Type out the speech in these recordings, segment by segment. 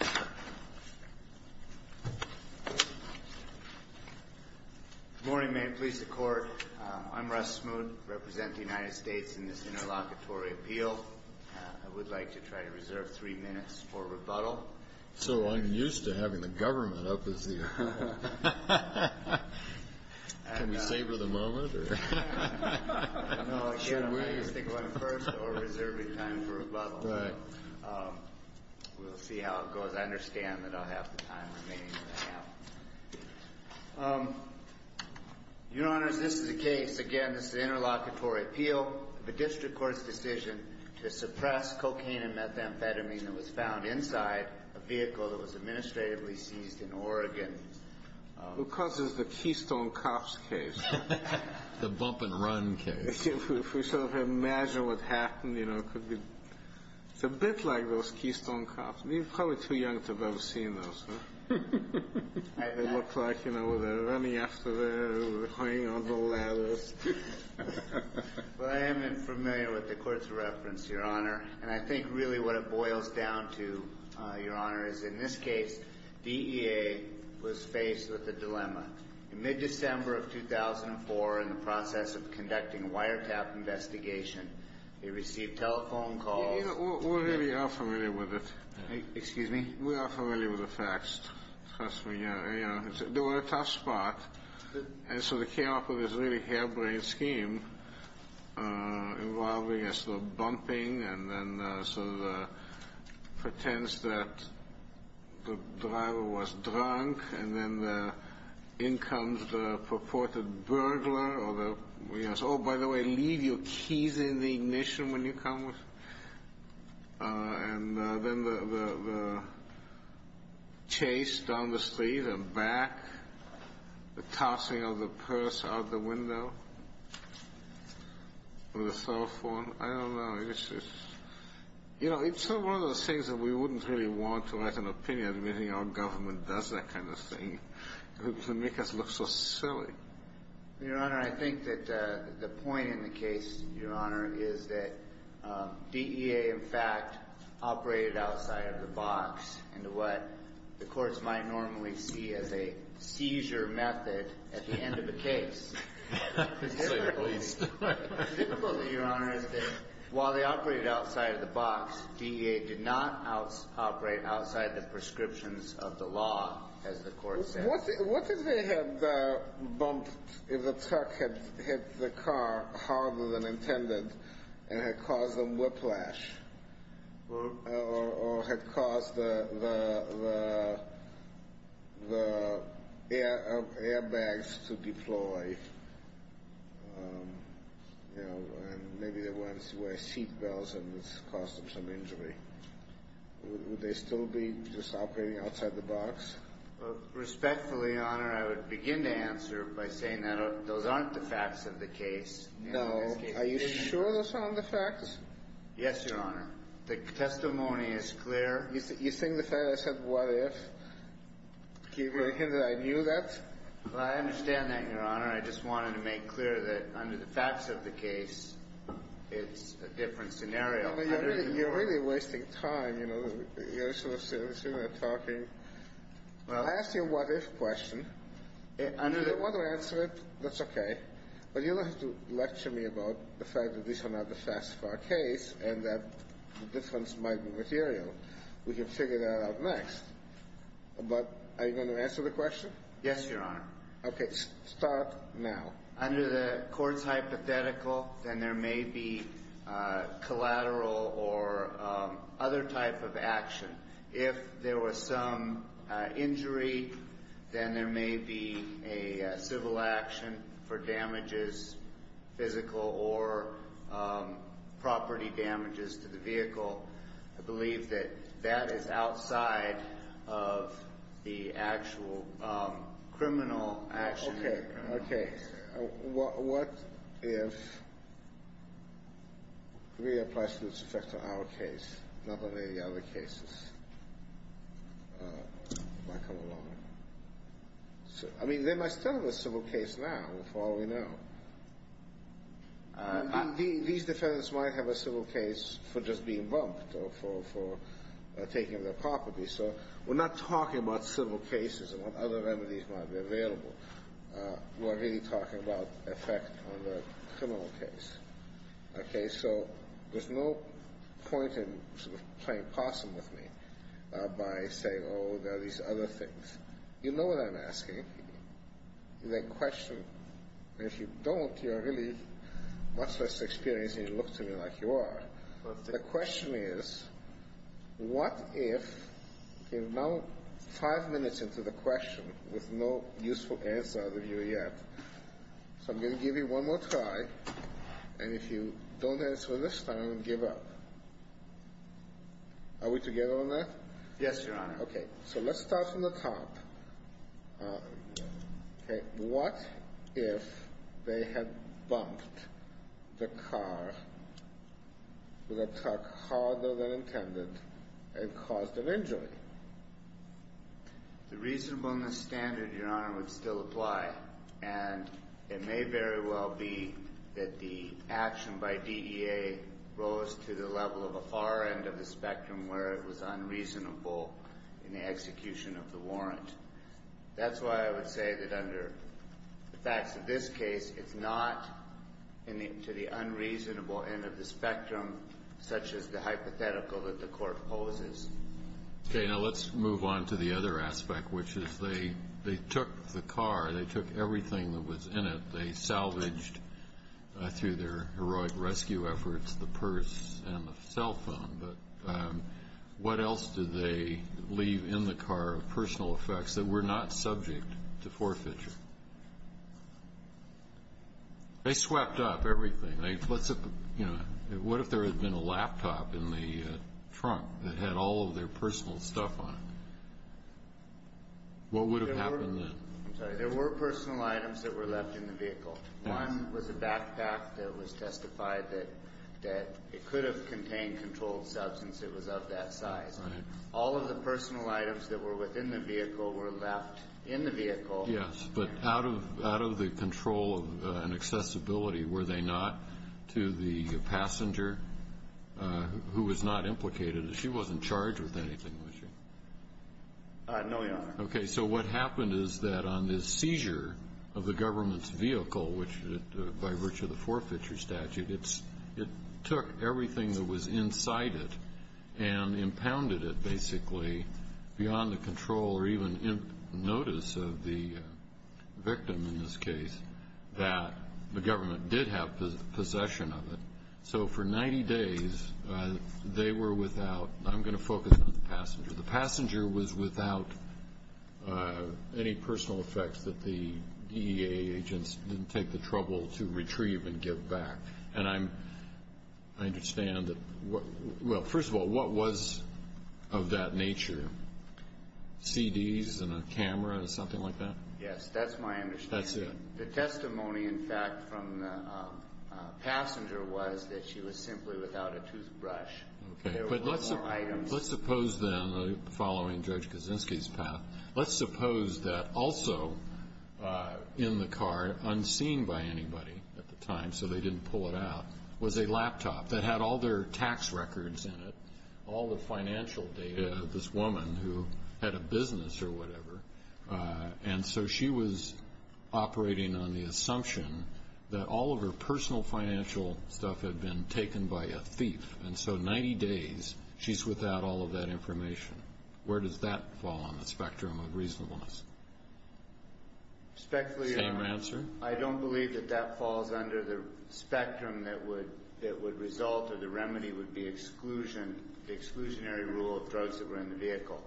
Good morning, may it please the Court. I'm Russ Smoot. I represent the United States in this interlocutory appeal. I would like to try to reserve three minutes for rebuttal. So I'm used to having the government up as the... Can we savor the moment? No, again, I'm used to going first or reserving time for rebuttal. But we'll see how it goes. I understand that I'll have the time remaining that I have. Your Honors, this is a case, again, this is an interlocutory appeal of a district court's decision to suppress cocaine and methamphetamine that was found inside a vehicle that was administratively seized in Oregon. Because it's the Keystone Cops case. The bump and run case. If we sort of imagine what happened, you know, it could be... It's a bit like those Keystone Cops. You're probably too young to have ever seen those, huh? They look like, you know, they're running after the... Well, I am unfamiliar with the Court's reference, Your Honor. And I think really what it boils down to, Your Honor, is in this case, DEA was faced with a dilemma. In mid-December of 2004, in the process of conducting a wiretap investigation, they received telephone calls... We really are familiar with it. Excuse me? We are familiar with the facts. Trust me. They were in a tough spot. And so they came up with this really harebrained scheme involving a sort of bumping and then sort of the pretense that the driver was drunk. And then in comes the purported burglar or the... Oh, by the way, leave your keys in the ignition when you come. And then the chase down the street and back. The tossing of the purse out the window. Or the cell phone. I don't know. You know, it's one of those things that we wouldn't really want to write an opinion admitting our government does that kind of thing. It would make us look so silly. Your Honor, I think that the point in the case, Your Honor, is that DEA, in fact, operated outside of the box into what the courts might normally see as a seizure method at the end of a case. At least. The difficulty, Your Honor, is that while they operated outside of the box, DEA did not operate outside the prescriptions of the law, as the court said. What if they had bumped, if the truck had hit the car harder than intended and had caused a whiplash? Or had caused the airbags to deploy? You know, and maybe the ones where seat belts and it's caused them some injury. Would they still be just operating outside the box? Respectfully, Your Honor, I would begin to answer by saying that those aren't the facts of the case. No. Are you sure those aren't the facts? Yes, Your Honor. The testimony is clear. You think the fact I said what if, do you think that I knew that? Well, I understand that, Your Honor. I just wanted to make clear that under the facts of the case, it's a different scenario. You're really wasting time, you know. You're sort of sitting there talking. I asked you a what if question. If you don't want to answer it, that's okay. But you'll have to lecture me about the fact that these are not the facts of our case and that the difference might be material. We can figure that out next. But are you going to answer the question? Yes, Your Honor. Okay. Start now. Under the court's hypothetical, then there may be collateral or other type of action. If there was some injury, then there may be a civil action for damages, physical or property damages to the vehicle. I believe that that is outside of the actual criminal action. Okay. What if it really applies to this effect on our case, not on any other cases? I mean, there might still be a civil case now, for all we know. These defendants might have a civil case for just being bumped or for taking their property. So we're not talking about civil cases and what other remedies might be available. We're really talking about effect on the criminal case. Okay. So there's no point in sort of playing possum with me by saying, oh, there are these other things. You know what I'm asking. The question, if you don't, you're really much less experienced and you look to me like you are. The question is, what if you're now five minutes into the question with no useful answer out of you yet. So I'm going to give you one more try. And if you don't answer this time, I'm going to give up. Are we together on that? Yes, Your Honor. Okay. So let's start from the top. What if they had bumped the car, the truck, harder than intended and caused an injury? The reasonableness standard, Your Honor, would still apply. And it may very well be that the action by DEA rose to the level of a far end of the spectrum where it was unreasonable in the execution of the warrant. That's why I would say that under the facts of this case, it's not to the unreasonable end of the spectrum such as the hypothetical that the court poses. Okay. Now let's move on to the other aspect, which is they took the car. They took everything that was in it. They salvaged, through their heroic rescue efforts, the purse and the cell phone. But what else did they leave in the car of personal effects that were not subject to forfeiture? They swept up everything. What if there had been a laptop in the trunk that had all of their personal stuff on it? What would have happened then? I'm sorry. There were personal items that were left in the vehicle. One was a backpack that was testified that it could have contained controlled substance. It was of that size. All of the personal items that were within the vehicle were left in the vehicle. Yes, but out of the control and accessibility, were they not to the passenger who was not implicated? She wasn't charged with anything, was she? No, Your Honor. Okay, so what happened is that on the seizure of the government's vehicle, by virtue of the forfeiture statute, it took everything that was inside it and impounded it, basically, beyond the control or even notice of the victim in this case that the government did have possession of it. So for 90 days, they were without. I'm going to focus on the passenger. The passenger was without any personal effects that the DEA agents didn't take the trouble to retrieve and give back. And I understand that, well, first of all, what was of that nature? CDs and a camera, something like that? Yes, that's my understanding. That's it. The testimony, in fact, from the passenger was that she was simply without a toothbrush. Okay. There were no items. Let's suppose, then, following Judge Kaczynski's path, let's suppose that also in the car, unseen by anybody at the time so they didn't pull it out, was a laptop that had all their tax records in it, all the financial data, this woman who had a business or whatever. And so she was operating on the assumption that all of her personal financial stuff had been taken by a thief. And so 90 days, she's without all of that information. Where does that fall on the spectrum of reasonableness? Spectrally, I don't believe that that falls under the spectrum that would result or the remedy would be exclusion, the exclusionary rule of drugs that were in the vehicle.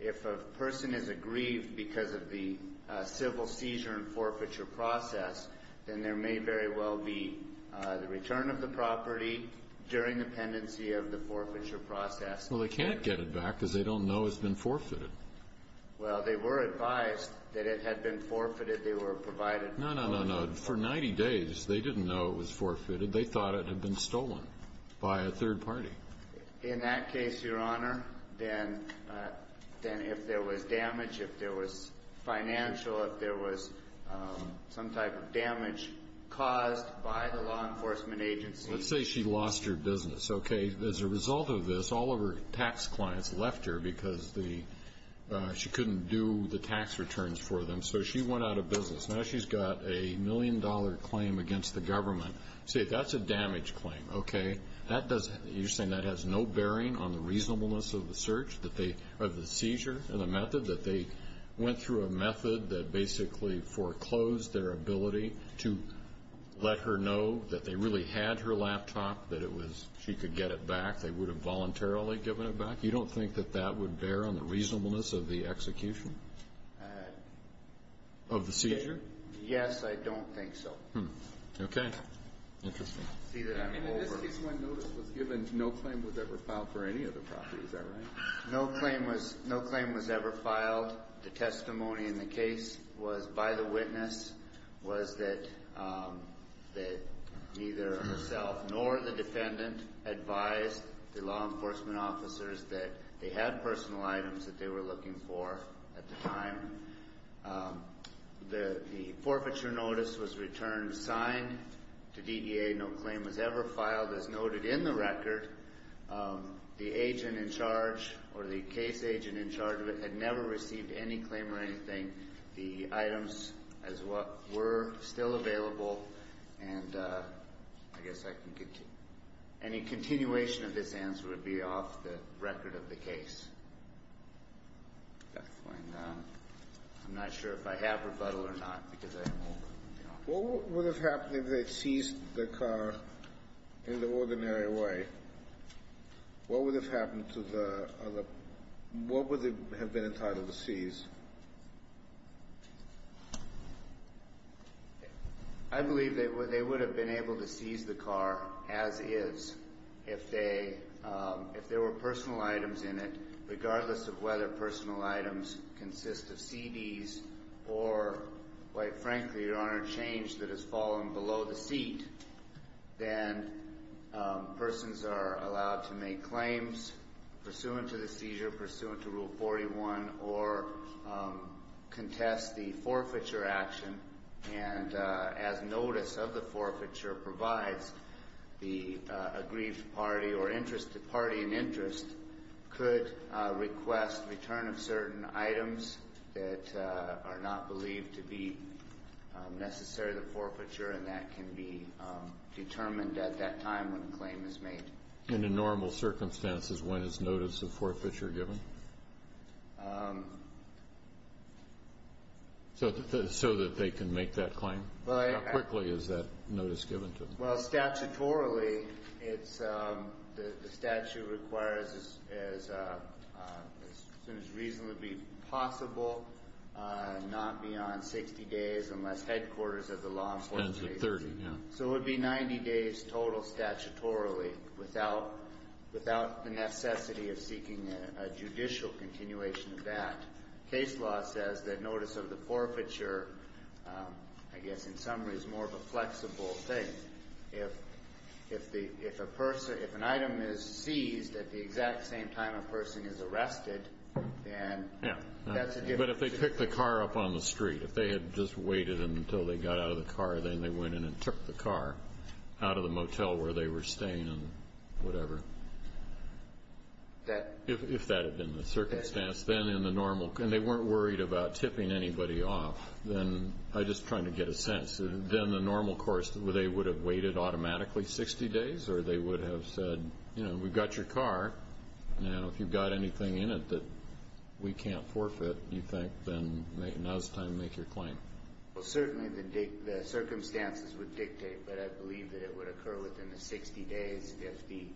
If a person is aggrieved because of the civil seizure and forfeiture process, then there may very well be the return of the property during the pendency of the forfeiture process. Well, they can't get it back because they don't know it's been forfeited. Well, they were advised that it had been forfeited. They were provided for. No, no, no, no. For 90 days, they didn't know it was forfeited. They thought it had been stolen by a third party. In that case, Your Honor, then if there was damage, if there was financial, if there was some type of damage caused by the law enforcement agency. Let's say she lost her business, okay? As a result of this, all of her tax clients left her because she couldn't do the tax returns for them. So she went out of business. Now she's got a million-dollar claim against the government. Say that's a damage claim, okay? You're saying that has no bearing on the reasonableness of the search, of the seizure, and the method, that they went through a method that basically foreclosed their ability to let her know that they really had her laptop, that she could get it back. They would have voluntarily given it back? You don't think that that would bear on the reasonableness of the execution of the seizure? Yes, I don't think so. Okay. Interesting. In this case, one notice was given, no claim was ever filed for any other property. Is that right? No claim was ever filed. The testimony in the case was by the witness, was that neither herself nor the defendant advised the law enforcement officers that they had personal items that they were looking for at the time. The forfeiture notice was returned signed to DDA. No claim was ever filed. As noted in the record, the agent in charge or the case agent in charge of it had never received any claim or anything. The items were still available, and I guess I can continue. Any continuation of this answer would be off the record of the case. Okay. I'm not sure if I have rebuttal or not because I am old. What would have happened if they had seized the car in the ordinary way? What would have happened to the other? What would have been entitled to seize? I believe they would have been able to seize the car as is if there were personal items in it, or, quite frankly, your Honor, change that has fallen below the seat, then persons are allowed to make claims pursuant to the seizure, pursuant to Rule 41, or contest the forfeiture action, and as notice of the forfeiture provides, the aggrieved party or interested party in interest could request return of certain items that are not believed to be necessary to the forfeiture, and that can be determined at that time when a claim is made. And in normal circumstances, when is notice of forfeiture given so that they can make that claim? How quickly is that notice given to them? Well, statutorily, the statute requires as soon as reasonably possible, not beyond 60 days unless headquarters of the law enforcement agency. So it would be 90 days total statutorily without the necessity of seeking a judicial continuation of that. Case law says that notice of the forfeiture, I guess in summary, is more of a flexible thing. If an item is seized at the exact same time a person is arrested, then that's a different situation. But if they picked the car up on the street, if they had just waited until they got out of the car, then they went in and took the car out of the motel where they were staying and whatever, if that had been the circumstance, then in the normal, and they weren't worried about tipping anybody off, then I'm just trying to get a sense. Then the normal course, they would have waited automatically 60 days, or they would have said, you know, we've got your car. Now, if you've got anything in it that we can't forfeit, you think, then now's the time to make your claim. Well, certainly the circumstances would dictate, but I believe that it would occur within the 60 days if the,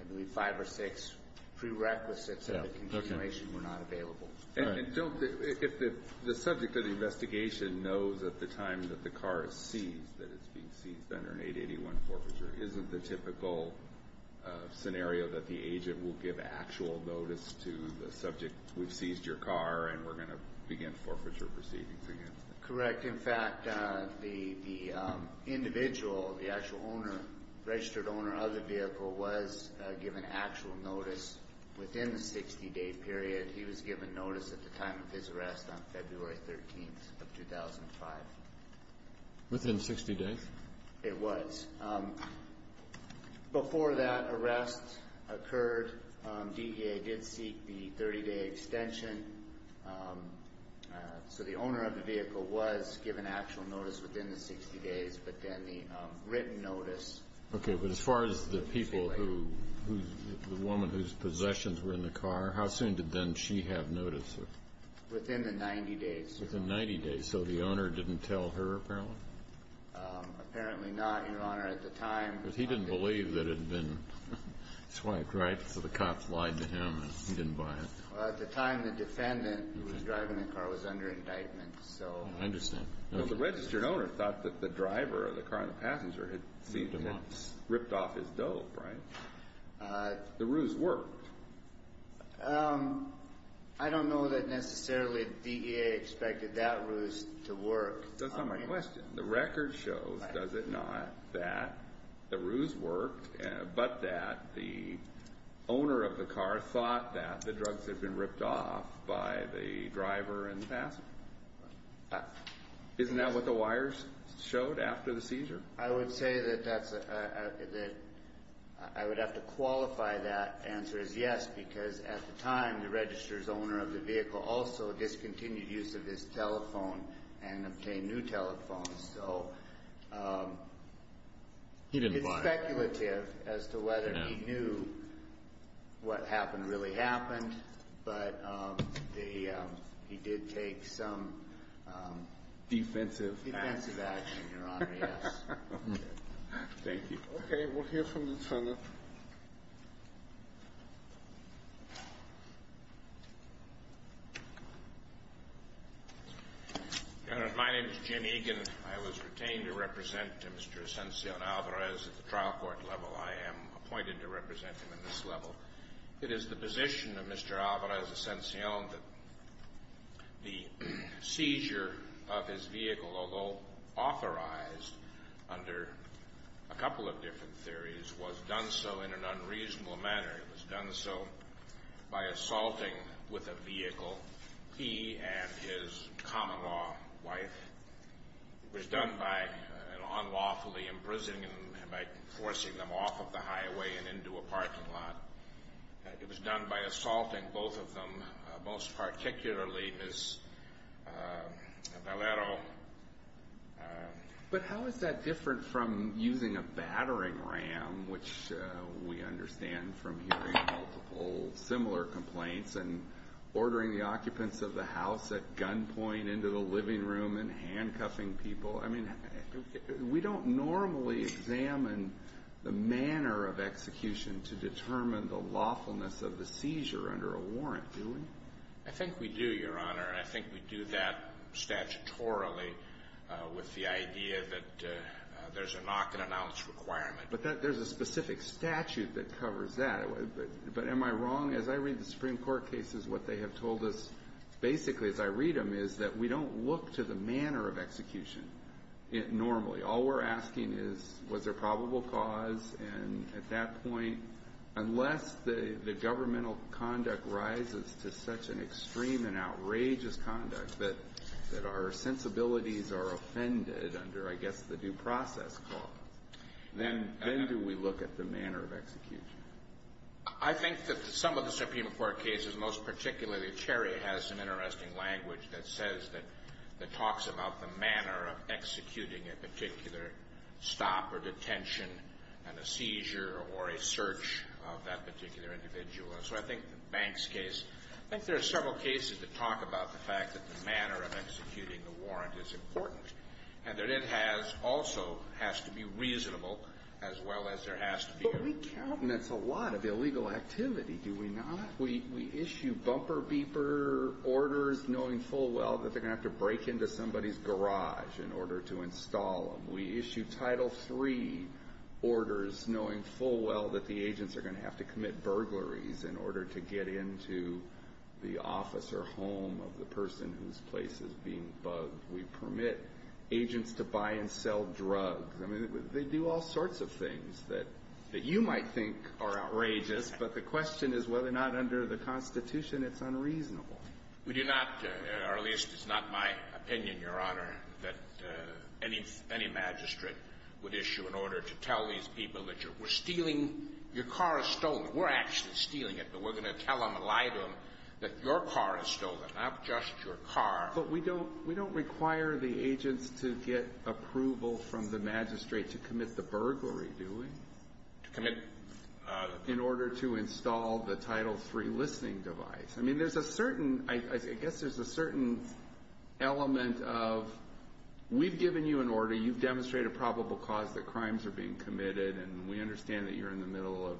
I believe, five or six prerequisites of the continuation were not available. And if the subject of the investigation knows at the time that the car is seized, that it's being seized under an 881 forfeiture, isn't the typical scenario that the agent will give actual notice to the subject, we've seized your car and we're going to begin forfeiture proceedings against it? Correct. In fact, the individual, the actual owner, registered owner of the vehicle, was given actual notice within the 60-day period. He was given notice at the time of his arrest on February 13th of 2005. Within 60 days? It was. Before that arrest occurred, DEA did seek the 30-day extension. So the owner of the vehicle was given actual notice within the 60 days, but then the written notice was delayed. Okay. But as far as the people who, the woman whose possessions were in the car, how soon did then she have notice? Within the 90 days. Within 90 days. So the owner didn't tell her, apparently? Apparently not, Your Honor. At the time. Because he didn't believe that it had been swiped, right? So the cops lied to him and he didn't buy it. Well, at the time, the defendant who was driving the car was under indictment, so. I understand. Well, the registered owner thought that the driver of the car, the passenger, had ripped off his dope, right? The ruse worked. I don't know that necessarily DEA expected that ruse to work. That's not my question. The record shows, does it not, that the ruse worked, but that the owner of the car thought that the drugs had been ripped off by the driver and the passenger. Isn't that what the wires showed after the seizure? I would say that I would have to qualify that answer as yes, because at the time, the registered owner of the vehicle also discontinued use of his telephone and obtained new telephones. He didn't buy it. It's speculative as to whether he knew what happened really happened, but he did take some defensive action, Your Honor, yes. Thank you. Okay, we'll hear from Lieutenant. Your Honor, my name is Jim Egan. I was retained to represent Mr. Ascension Alvarez at the trial court level. I am appointed to represent him at this level. It is the position of Mr. Alvarez Ascension that the seizure of his vehicle, although authorized under a couple of different theories, was done so in an unreasonable manner. It was done so by assaulting with a vehicle. He and his common law wife. It was done by unlawfully imprisoning them by forcing them off of the highway and into a parking lot. It was done by assaulting both of them, most particularly Ms. Valero. But how is that different from using a battering ram, which we understand from hearing multiple similar complaints, and ordering the occupants of the house at gunpoint into the living room and handcuffing people? I mean, we don't normally examine the manner of execution to determine the lawfulness of the seizure under a warrant, do we? I think we do, Your Honor. And I think we do that statutorily with the idea that there's a knock-and-announce requirement. But there's a specific statute that covers that. But am I wrong? As I read the Supreme Court cases, what they have told us basically, as I read them, is that we don't look to the manner of execution normally. All we're asking is, was there probable cause? And at that point, unless the governmental conduct rises to such an extreme and outrageous conduct that our sensibilities are offended under, I guess, the due process clause, then do we look at the manner of execution. I think that some of the Supreme Court cases, and most particularly Cherry, has some interesting language that says that – that talks about the manner of executing a particular stop or detention and a seizure or a search of that particular individual. And so I think the Banks case – I think there are several cases that talk about the fact that the manner of executing the warrant is important, and that it has – also has to be reasonable as well as there has to be a – Do we count? And that's a lot of illegal activity, do we not? We issue bumper beeper orders knowing full well that they're going to have to break into somebody's garage in order to install them. We issue Title III orders knowing full well that the agents are going to have to commit burglaries in order to get into the office or home of the person whose place is being bugged. We permit agents to buy and sell drugs. I mean, they do all sorts of things that you might think are outrageous, but the question is whether or not under the Constitution it's unreasonable. We do not – or at least it's not my opinion, Your Honor, that any magistrate would issue an order to tell these people that you're – we're stealing – your car is stolen. We're actually stealing it, but we're going to tell them and lie to them that your car is stolen, not just your car. But we don't – we don't require the agents to get approval from the magistrate to commit the burglary, do we? To commit – In order to install the Title III listening device. I mean, there's a certain – I guess there's a certain element of we've given you an order. You've demonstrated a probable cause that crimes are being committed, and we understand that you're in the middle of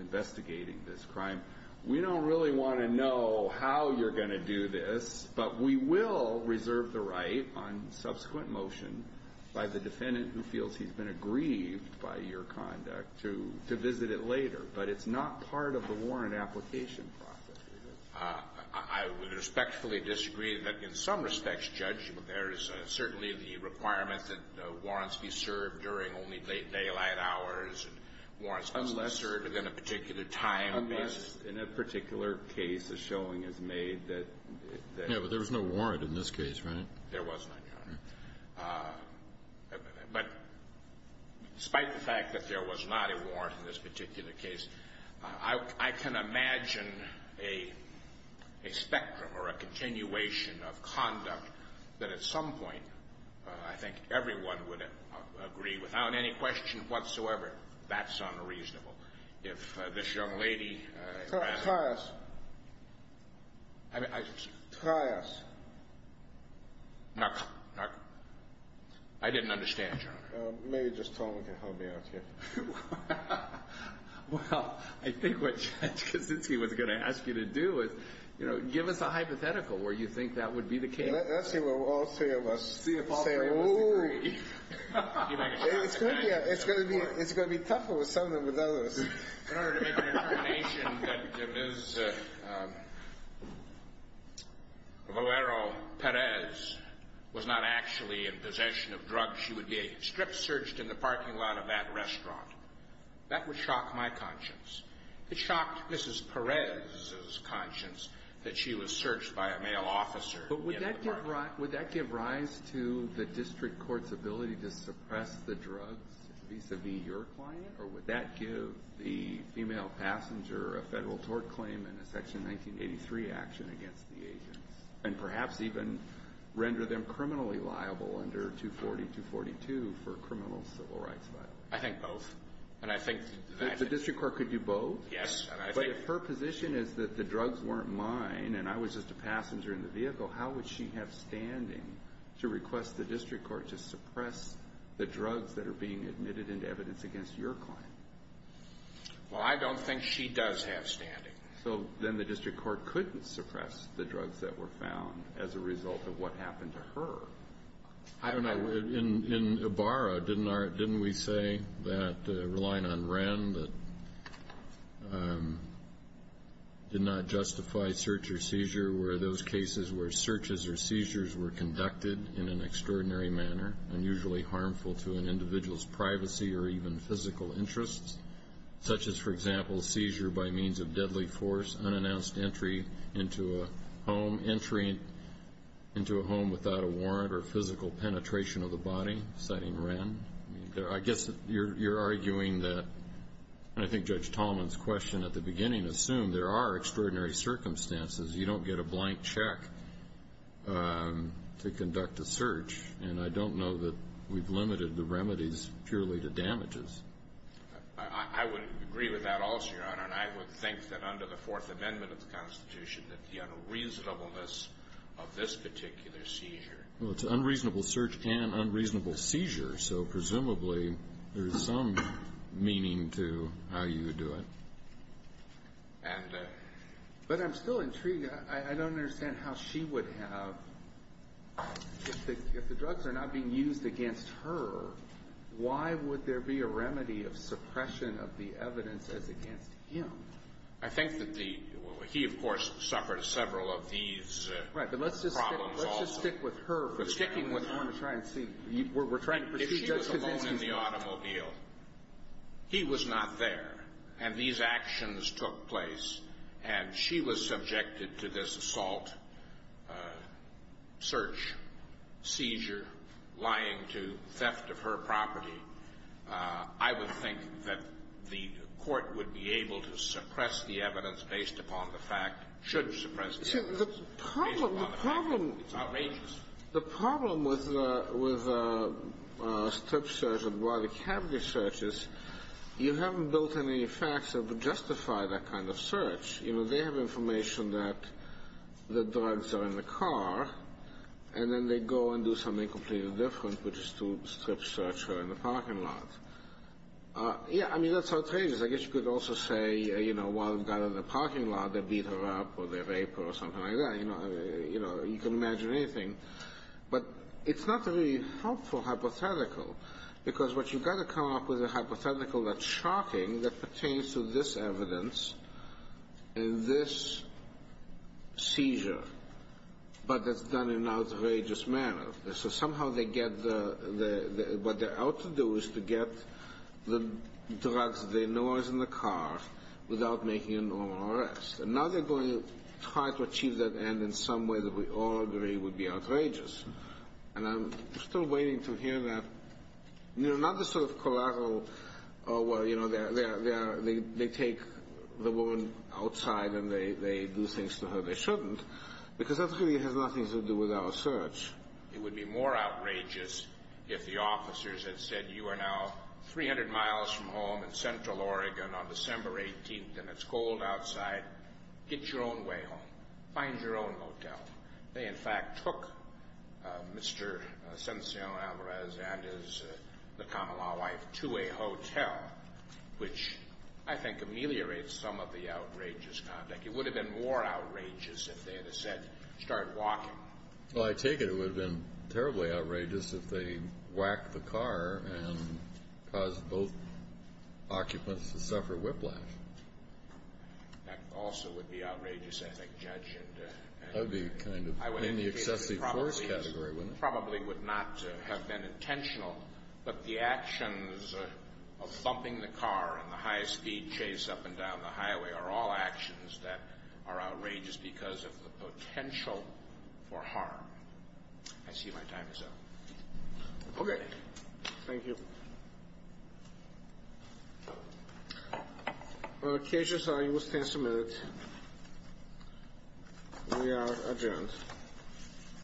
investigating this crime. We don't really want to know how you're going to do this, but we will reserve the right on subsequent motion by the defendant who feels he's been aggrieved by your conduct to visit it later. But it's not part of the warrant application process. I would respectfully disagree that in some respects, Judge, there is certainly the requirement that warrants be served during only late daylight hours. And warrants must be served within a particular time. Unless in a particular case the showing is made that – Yeah, but there was no warrant in this case, right? There was none, Your Honor. But despite the fact that there was not a warrant in this particular case, I can imagine a spectrum or a continuation of conduct that at some point I think everyone would agree without any question whatsoever, that's unreasonable. If this young lady – Trias. I mean – Trias. Knock, knock. I didn't understand, Your Honor. Maybe just Tolman can help me out here. Well, I think what Judge Kaczynski was going to ask you to do is, you know, give us a hypothetical where you think that would be the case. Let's see what all three of us – See if all three of us agree. It's going to be tougher with some than with others. In order to make an interpretation that Ms. Valero Perez was not actually in possession of drugs, she would be a strip search in the parking lot of that restaurant. That would shock my conscience. It shocked Mrs. Perez's conscience that she was searched by a male officer in the parking lot. But would that give rise to the district court's ability to suppress the drugs vis-à-vis your client? Or would that give the female passenger a federal tort claim and a Section 1983 action against the agents? And perhaps even render them criminally liable under 240-242 for criminal civil rights violations? I think both. And I think that – The district court could do both? Yes. But if her position is that the drugs weren't mine and I was just a passenger in the vehicle, how would she have standing to request the district court to suppress the drugs that are being admitted into evidence against your client? Well, I don't think she does have standing. So then the district court couldn't suppress the drugs that were found as a result of what happened to her. I don't know. In Ibarra, didn't we say that relying on Wren did not justify search or seizure? Were those cases where searches or seizures were conducted in an extraordinary manner, unusually harmful to an individual's privacy or even physical interests, such as, for example, seizure by means of deadly force, unannounced entry into a home, entry into a home without a warrant or physical penetration of the body, citing Wren? I guess you're arguing that – and I think Judge Tallman's question at the beginning assumed there are extraordinary circumstances. You don't get a blank check to conduct a search. And I don't know that we've limited the remedies purely to damages. I would agree with that also, Your Honor, and I would think that under the Fourth Amendment of the Constitution, that the unreasonableness of this particular seizure – Well, it's an unreasonable search and unreasonable seizure, so presumably there is some meaning to how you would do it. And – but I'm still intrigued. I don't understand how she would have – if the drugs are not being used against her, why would there be a remedy of suppression of the evidence as against him? I think that the – well, he, of course, suffered several of these problems also. Right, but let's just stick with her for the time being. But sticking with her – I want to try and see – we're trying to proceed – If she was alone in the automobile, he was not there, and these actions took place, and she was subjected to this assault, search, seizure, lying to theft of her property, I would think that the court would be able to suppress the evidence based upon the fact – should suppress the evidence based upon the fact that it's outrageous. The problem with strip search and broadly cavity searches, you haven't built any facts that would justify that kind of search. You know, they have information that the drugs are in the car, and then they go and do something completely different, which is to strip search her in the parking lot. Yeah, I mean, that's outrageous. I guess you could also say, you know, while they're down in the parking lot, they beat her up or they rape her or something like that. You know, you can imagine anything. But it's not a really helpful hypothetical, because what you've got to come up with is a hypothetical that's shocking that pertains to this evidence and this seizure, but that's done in an outrageous manner. So somehow they get – what they're out to do is to get the drugs they know are in the car without making a normal arrest. And now they're going to try to achieve that end in some way that we all agree would be outrageous. And I'm still waiting to hear that. You know, not the sort of collateral, oh, well, you know, they take the woman outside and they do things to her they shouldn't, because that really has nothing to do with our search. It would be more outrageous if the officers had said, you are now 300 miles from home in central Oregon on December 18th, and it's cold outside. Get your own way home. Find your own hotel. They, in fact, took Mr. Sencion Alvarez and his – the Kamala wife to a hotel, which I think ameliorates some of the outrageous conduct. It would have been more outrageous if they had said, start walking. Well, I take it it would have been terribly outrageous if they whacked the car and caused both occupants to suffer whiplash. That also would be outrageous, I think, Judge. That would be kind of in the excessive force category, wouldn't it? Probably would not have been intentional. But the actions of thumping the car and the high-speed chase up and down the highway are all actions that are outrageous because of the potential for harm. I see my time is up. Okay. Thank you. Cases, you will stand submitted. We are adjourned.